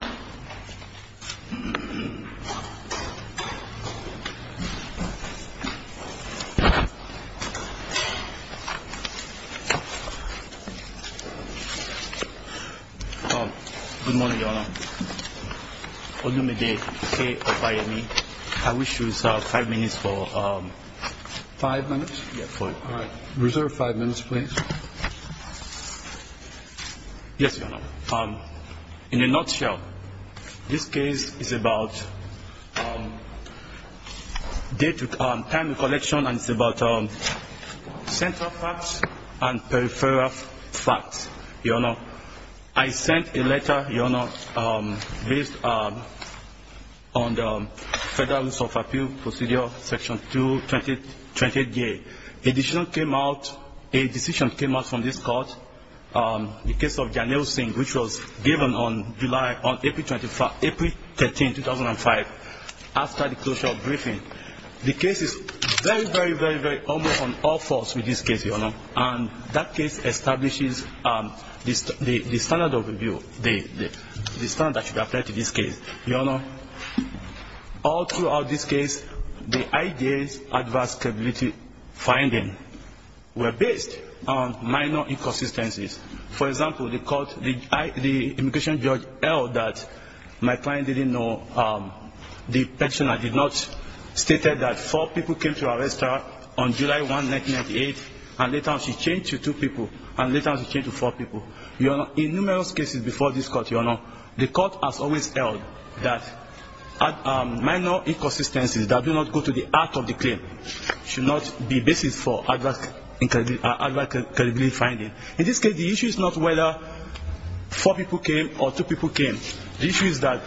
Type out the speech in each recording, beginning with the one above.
Good morning, Your Honor. On behalf of the State of Miami, I wish to reserve five minutes for... Five minutes? Yeah, for... All right. Reserve five minutes, please. Yes, Your Honor. In a nutshell, this case is about date and time of collection and it's about central facts and peripheral facts, Your Honor. I sent a letter, Your Honor, based on the Federalist of Appeal Procedure, Section 228J. A decision came out from this court, the case of Janel Singh, which was given on April 13, 2005, after the closure of briefing. The case is very, very, very, very on all fours with this case, Your Honor, and that case, Your Honor, all throughout this case, the IJ's adverse capability finding were based on minor inconsistencies. For example, the court, the immigration judge held that my client didn't know the petitioner did not stated that four people came to arrest her on July 1, 1998, and later on she changed to two people, and later on she changed to four people. Your Honor, in numerous cases before this court, Your Honor, the court has always held that minor inconsistencies that do not go to the act of the claim should not be basis for adverse capability finding. In this case, the issue is not whether four people came or two people came. The issue is that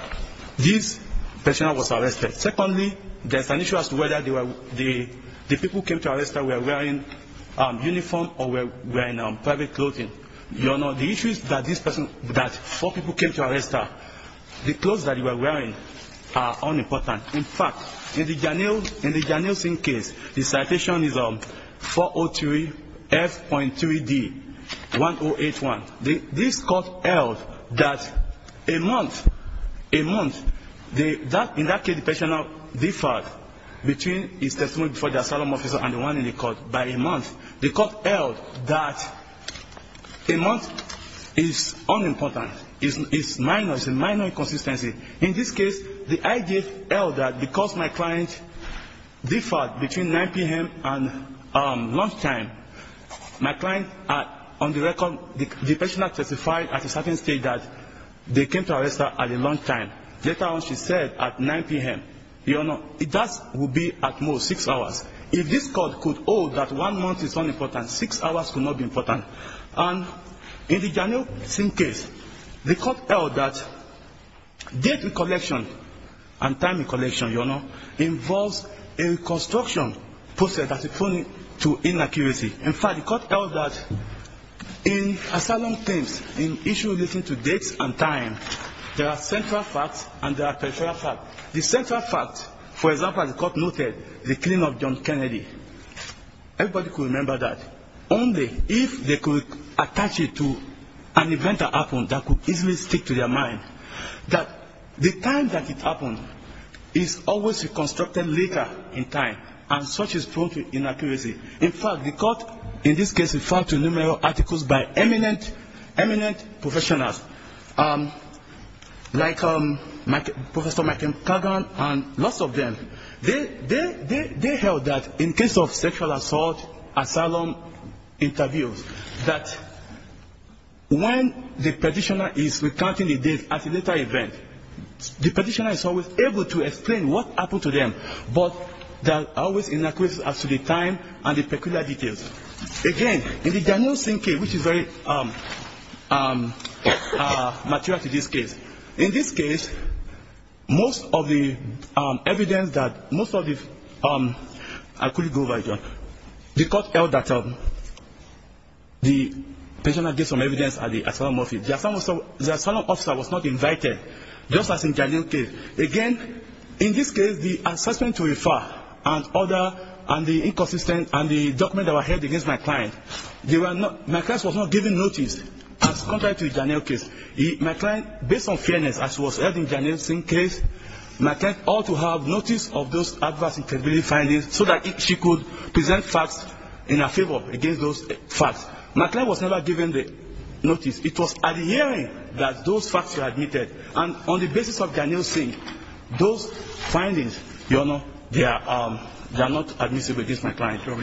this petitioner was arrested. Secondly, there's an issue as to whether the people who came to arrest her were wearing uniform or were not. The issue is that this person, that four people came to arrest her, the clothes that they were wearing are unimportant. In fact, in the Janelle Singh case, the citation is 403F.3D1081. This court held that a month, a month, in that case the petitioner differed between his testimony before the asylum officer and the one in the court by a month. The court held that a month is unimportant, is minor, is a minor inconsistency. In this case, the IG held that because my client differed between 9 p.m. and lunchtime, my client, on the record, the petitioner testified at a certain stage that they came to arrest her at lunchtime. Later on she said at 9 p.m. Your Honor, that would be at most six hours. If this court could hold that one month is unimportant, six hours could not be important. And in the Janelle Singh case, the court held that date recollection and time recollection, Your Honor, involves a reconstruction process that is prone to inaccuracy. In fact, the court held that in asylum claims, in issues relating to dates and time, there are central facts and there are peripheral facts. The central fact, for example, as the court noted, the everybody could remember that only if they could attach it to an event that happened that could easily stick to their mind, that the time that it happened is always a constructed later in time and such is prone to inaccuracy. In fact, the court in this case referred to numerous articles by eminent, eminent professionals like Professor Michael Kagan and lots of them. They held that in case of sexual assault, asylum interviews, that when the petitioner is recounting the dates at a later event, the petitioner is always able to explain what happened to them, but there are always inaccuracies as to the time and the particular details. Again, in the Janelle Singh case, which is very mature to this case, in this case, most of the evidence that most of the, I couldn't go over it, the court held that the petitioner gave some evidence at the asylum office. The asylum officer was not invited, just as in Janelle's case. Again, in this case, the assessment to refer and other and the inconsistent and the documents that were held against my client, my client was not given notice as compared to Janelle's case. My client, based on fairness, as was held in Janelle Singh's case, my client ought to have notice of those adverse incredibility findings so that she could present facts in her favor against those facts. My client was never given the notice. It was at the hearing that those facts were admitted. And on the basis of Janelle Singh, those findings, Your Honor, they are not admissible against my client. May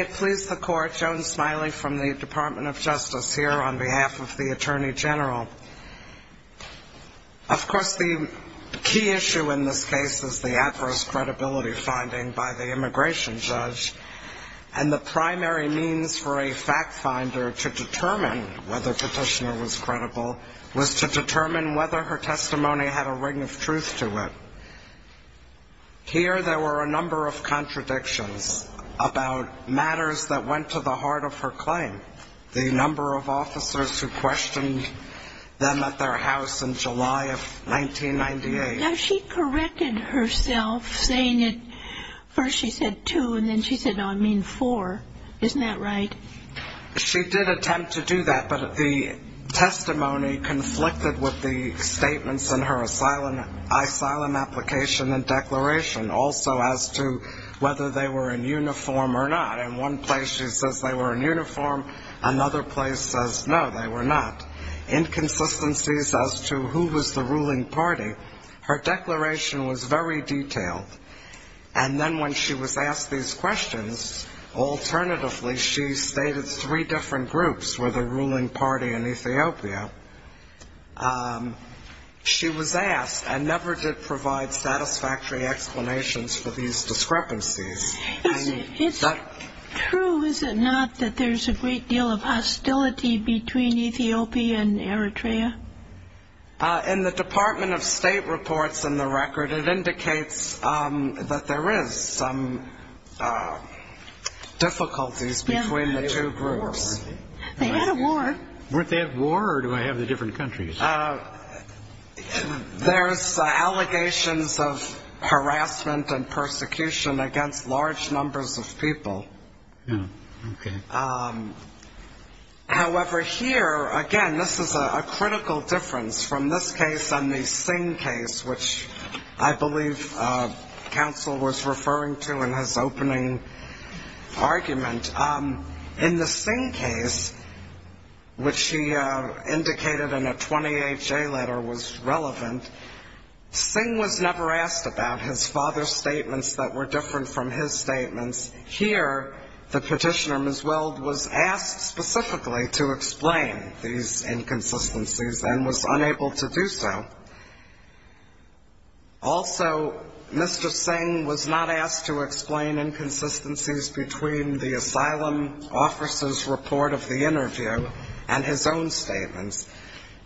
it please the Court, Joan Smiley from the Department of Justice here on behalf of the Attorney General. Of course, the key issue in this case is the adverse credibility finding by the immigration judge. And the primary means for a fact finder to determine whether the petitioner was credible was to determine whether her testimony had a ring of truth to it. Here, there were a number of contradictions about matters that went to the heart of her claim. The number of officers who questioned them at their house in July of 1998. Now, she corrected herself saying that first she said two and then she said, no, I mean four. Isn't that right? She did attempt to do that, but the testimony conflicted with the statements in her asylum application and declaration also as to whether they were in uniform or not. In one place she says they were in uniform. Another place says no, they were not. Inconsistencies as to who was the ruling party. Her declaration was very detailed. And then when she was asked these questions, alternatively, she stated three different groups were the ruling party in Ethiopia. She was asked and never did provide satisfactory explanations for these discrepancies. It's true, is it not, that there's a great deal of hostility between Ethiopia and Eritrea? In the Department of State reports in the record, it indicates that there is some difficulties between the two groups. They had a war. Weren't they at war or do I have the different countries? There's allegations of harassment and persecution against large numbers of people. Oh, okay. However, here, again, this is a critical difference from this case and the Singh case, which I believe counsel was referring to in his opening argument. In the Singh case, which he indicated in a 28-J letter was relevant, Singh was never asked about his father's statements that were different from his statements. Here, the petitioner, Ms. Weld, was asked specifically to explain these inconsistencies and was unable to do so. Also, Mr. Singh was not asked to explain inconsistencies between the asylum officer's report of the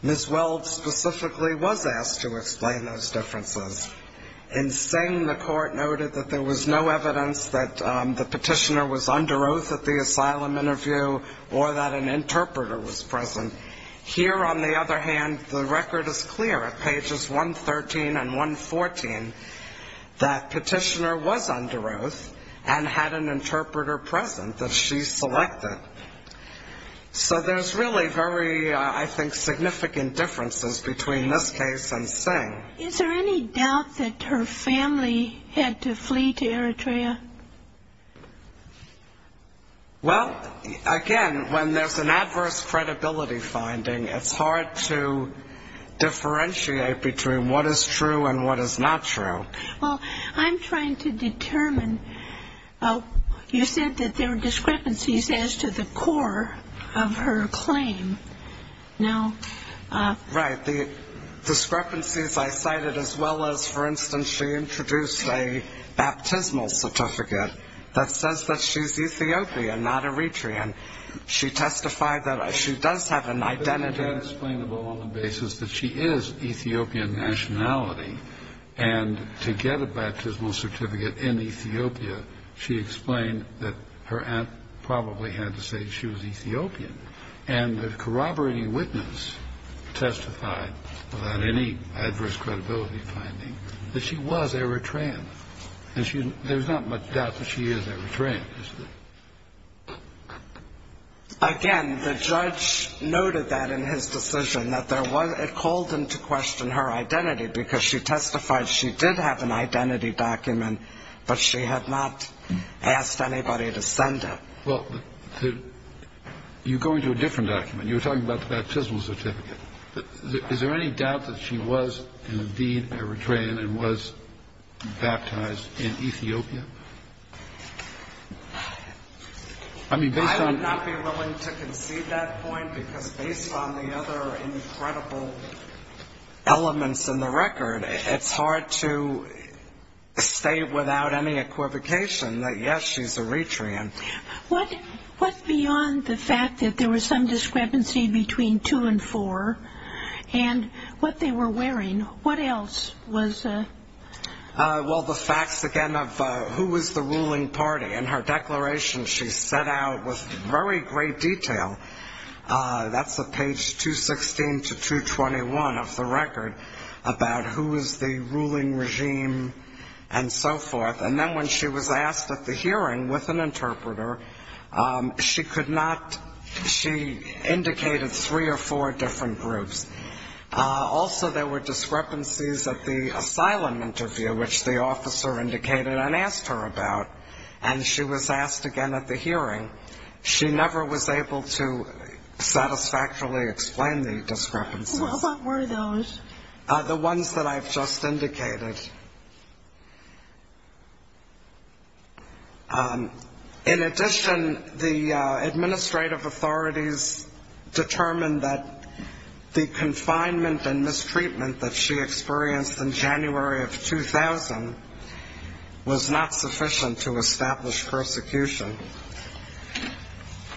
Ms. Weld specifically was asked to explain those differences. In Singh, the court noted that there was no evidence that the petitioner was under oath at the asylum interview or that an interpreter was present. Here, on the other hand, the record is clear at pages 113 and 114 that petitioner was under oath and had an interpreter present that she selected. So there's really very, I think, significant differences between this case and Singh. Is there any doubt that her family had to flee to Eritrea? Well, again, when there's an adverse credibility finding, it's hard to differentiate between what is true and what is not true. Well, I'm trying to determine, you said that there were discrepancies as to the core of her claim. Right. The discrepancies I cited as well as, for instance, she introduced a baptismal certificate that says that she's Ethiopian, not Eritrean. She testified that she does have an identity. But she can't explain on the basis that she is Ethiopian nationality. And to get a baptismal certificate in Ethiopia, she explained that her aunt probably had to say she was Ethiopian. And the corroborating witness testified, without any adverse credibility finding, that she was Eritrean. And there's not much doubt that she is Eritrean, isn't it? Again, the judge noted that in his decision, that it called into question her identity, because she testified she did have an identity document, but she had not asked anybody to send it. Well, you're going to a different document. You were talking about the baptismal certificate. Is there any doubt that she was, indeed, Eritrean and was baptized in Ethiopia? I would not be willing to concede that point, because based on the other incredible elements in the record, it's hard to state without any equivocation that, yes, she's Eritrean. What beyond the fact that there was some discrepancy between two and four and what they were wearing, what else was? Well, the facts, again, of who was the ruling party. In her declaration, she set out with very great detail, that's page 216 to 221 of the record, about who was the ruling regime and so forth. And then when she was asked at the hearing with an interpreter, she indicated three or four different groups. Also, there were discrepancies at the asylum interview, which the officer indicated and asked her about, and she was asked again at the hearing. She never was able to satisfactorily explain the discrepancies. What were those? The ones that I've just indicated. In addition, the administrative authorities determined that the confinement and mistreatment that she experienced in January of 2000 was not sufficient to establish persecution.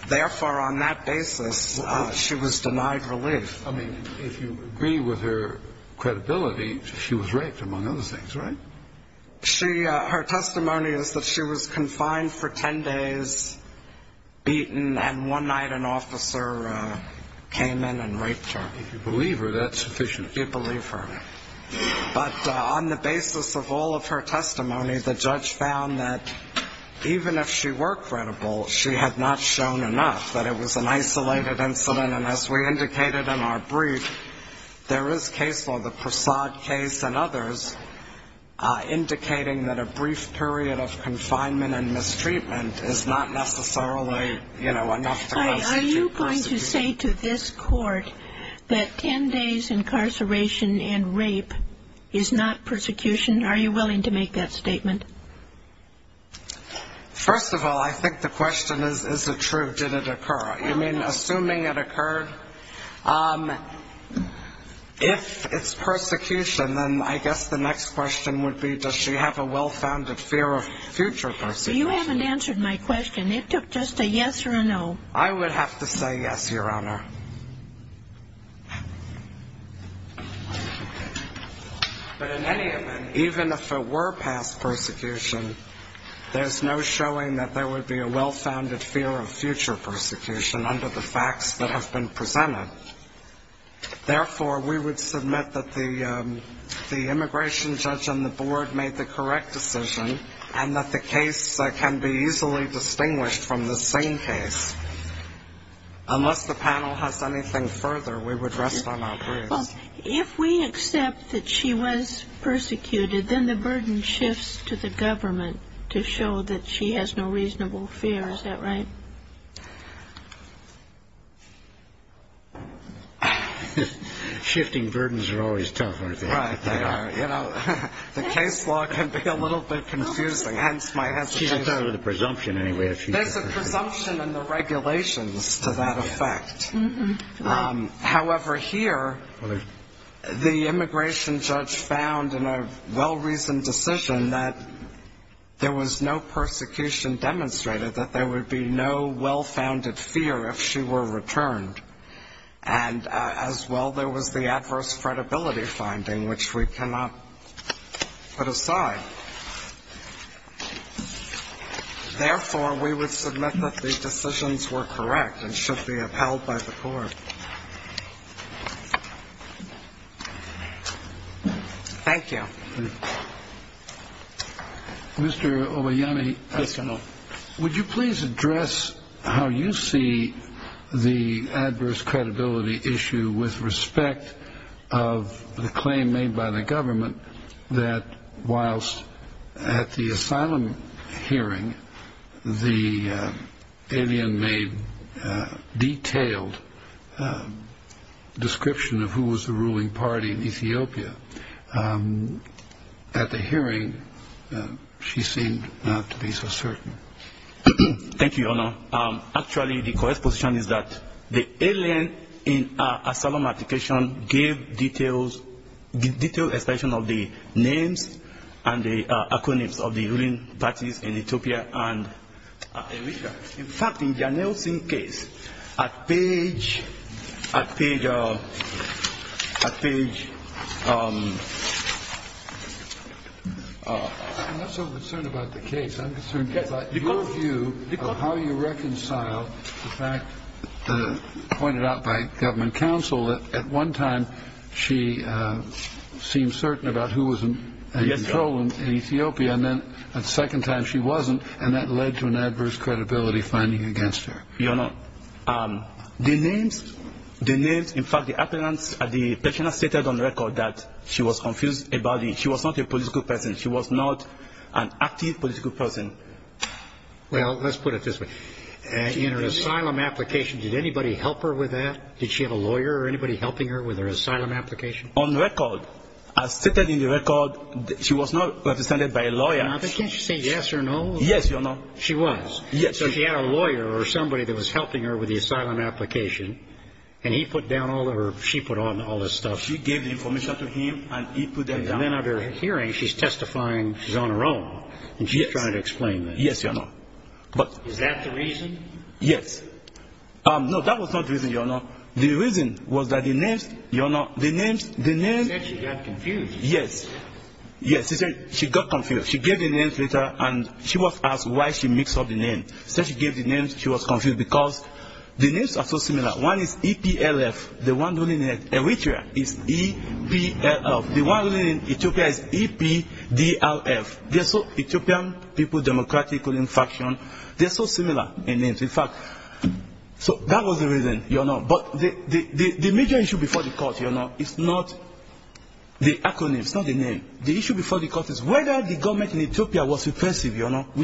Therefore, on that basis, she was denied relief. I mean, if you agree with her credibility, she was raped, among other things, right? Her testimony is that she was confined for ten days, beaten, and one night an officer came in and raped her. If you believe her, that's sufficient. If you believe her. But on the basis of all of her testimony, the judge found that even if she were credible, she had not shown enough, that it was an isolated incident. And as we indicated in our brief, there is case law, the Prasad case and others, indicating that a brief period of confinement and mistreatment is not necessarily, you know, enough to constitute persecution. Are you going to say to this court that ten days incarceration and rape is not persecution? Are you willing to make that statement? First of all, I think the question is, is it true? Did it occur? You mean assuming it occurred? If it's persecution, then I guess the next question would be, does she have a well-founded fear of future persecution? You haven't answered my question. It took just a yes or a no. I would have to say yes, Your Honor. But in any event, even if it were past persecution, there's no showing that there would be a well-founded fear of future persecution under the facts that have been presented. Therefore, we would submit that the immigration judge on the board made the correct decision and that the case can be easily distinguished from the same case, unless the panel has anything further, we would rest on our breasts. If we accept that she was persecuted, then the burden shifts to the government to show that she has no reasonable fear. Is that right? Shifting burdens are always tough, aren't they? Right, they are. You know, the case law can be a little bit confusing, hence my hesitation. She's a part of the presumption anyway. There's a presumption in the regulations to that effect. However, here, the immigration judge found in a well-reasoned decision that there was no persecution demonstrated, that there would be no well-founded fear if she were returned. And as well, there was the adverse credibility finding, which we cannot put aside. Therefore, we would submit that the decisions were correct and should be upheld by the court. Thank you. Mr. Obeyemi. Yes, Your Honor. Would you please address how you see the adverse credibility issue with respect of the claim made by the government that whilst at the asylum hearing the alien made detailed description of who was the ruling party in Ethiopia, at the hearing she seemed not to be so certain? Actually, the correct position is that the alien in our asylum application gave detailed expression of the names and the acronyms of the ruling parties in Ethiopia and Eritrea. In fact, in Janelle Singh's case, at page – at page – at page – I'm not so concerned about the case. I'm concerned about your view of how you reconcile the fact pointed out by government counsel that at one time she seemed certain about who was in control in Ethiopia, and then the second time she wasn't, and that led to an adverse credibility finding against her. Your Honor, the names – the names – in fact, the appearance – the person has stated on record that she was confused about the – she was not a political person. She was not an active political person. Well, let's put it this way. In her asylum application, did anybody help her with that? Did she have a lawyer or anybody helping her with her asylum application? On record, as stated in the record, she was not represented by a lawyer. Can't you say yes or no? Yes, Your Honor. She was. Yes. So she had a lawyer or somebody that was helping her with the asylum application, and he put down all of her – she put down all her stuff. She gave the information to him, and he put them down. And then at her hearing, she's testifying – she's on her own. Yes. She's trying to explain that. Yes, Your Honor. But – Is that the reason? Yes. No, that was not the reason, Your Honor. The reason was that the names – Your Honor, the names – the names – She said she got confused. Yes. Yes. She said she got confused. She gave the names later, and she was asked why she mixed up the names. She was confused because the names are so similar. One is E-P-L-F. The one running in Eritrea is E-P-L-F. The one running in Ethiopia is E-P-D-L-F. They're so – Ethiopian people, democratic ruling faction – they're so similar in names. In fact – so that was the reason, Your Honor. But the major issue before the court, Your Honor, is not the acronym. It's not the name. We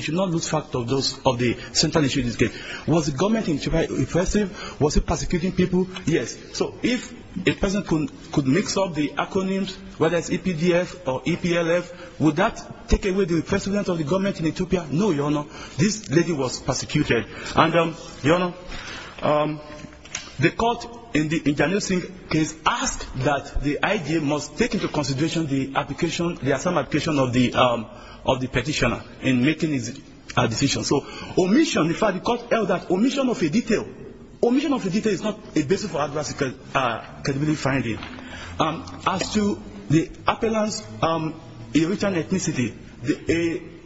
should not lose sight of those – of the central issue in this case. Was the government in Ethiopia repressive? Was it persecuting people? Yes. So if a person could mix up the acronyms, whether it's E-P-D-L-F or E-P-L-F, would that take away the repressiveness of the government in Ethiopia? No, Your Honor. This lady was persecuted. And, Your Honor, the court in the Ntanusi case asked that the IG must take into consideration the application – So, omission – in fact, the court held that omission of a detail – omission of a detail is not a basis for aggressive credibility finding. As to the appellant's original ethnicity,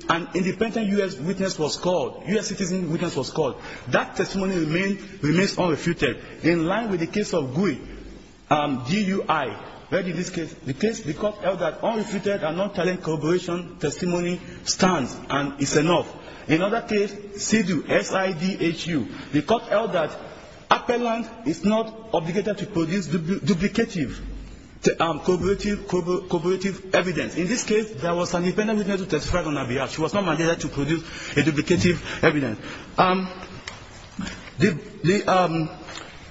an independent U.S. witness was called – U.S. citizen witness was called. That testimony remains unrefuted. In line with the case of GUI – G-U-I – where did this case – the case, the court held that unrefuted and non-talent corroboration testimony stands and is enough. In another case, SIDHU – S-I-D-H-U – the court held that appellant is not obligated to produce duplicative corroborative evidence. In this case, there was an independent witness who testified on her behalf. She was not mandated to produce a duplicative evidence.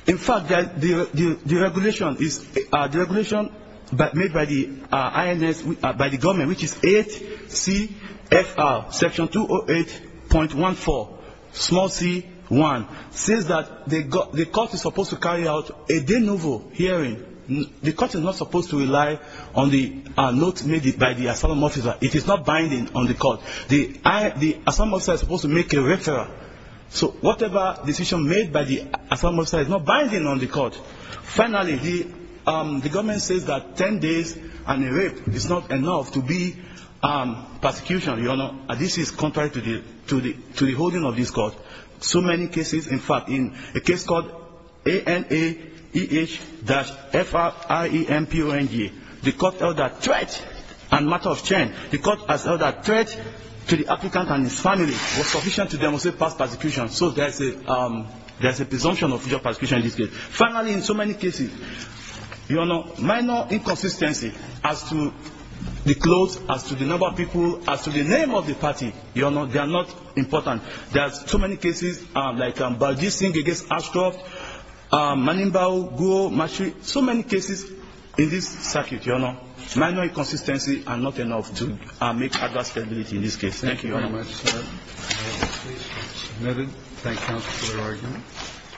In fact, the regulation made by the government, which is 8 C.F.R. section 208.14, small c.1, says that the court is supposed to carry out a de novo hearing. The court is not supposed to rely on the notes made by the asylum officer. It is not binding on the court. The asylum officer is supposed to make a referral. So whatever decision made by the asylum officer is not binding on the court. Finally, the government says that 10 days and a rape is not enough to be prosecution, Your Honor. This is contrary to the holding of this court. So many cases, in fact, in a case called A-N-A-E-H-F-R-I-E-N-P-O-N-G, the court held that threat and matter of change. The court has held that threat to the applicant and his family was sufficient to demonstrate past prosecution. So there is a presumption of future prosecution in this case. Finally, in so many cases, minor inconsistency as to the clothes, as to the number of people, as to the name of the party, they are not important. There are so many cases like Baljeet Singh against Ashcroft, Manimbao, Guo, Mashri, so many cases in this circuit, Your Honor. Minor inconsistency are not enough to make adverse credibility in this case. Thank you, Your Honor. Thank you very much, sir. Thank you, counsel, for your argument.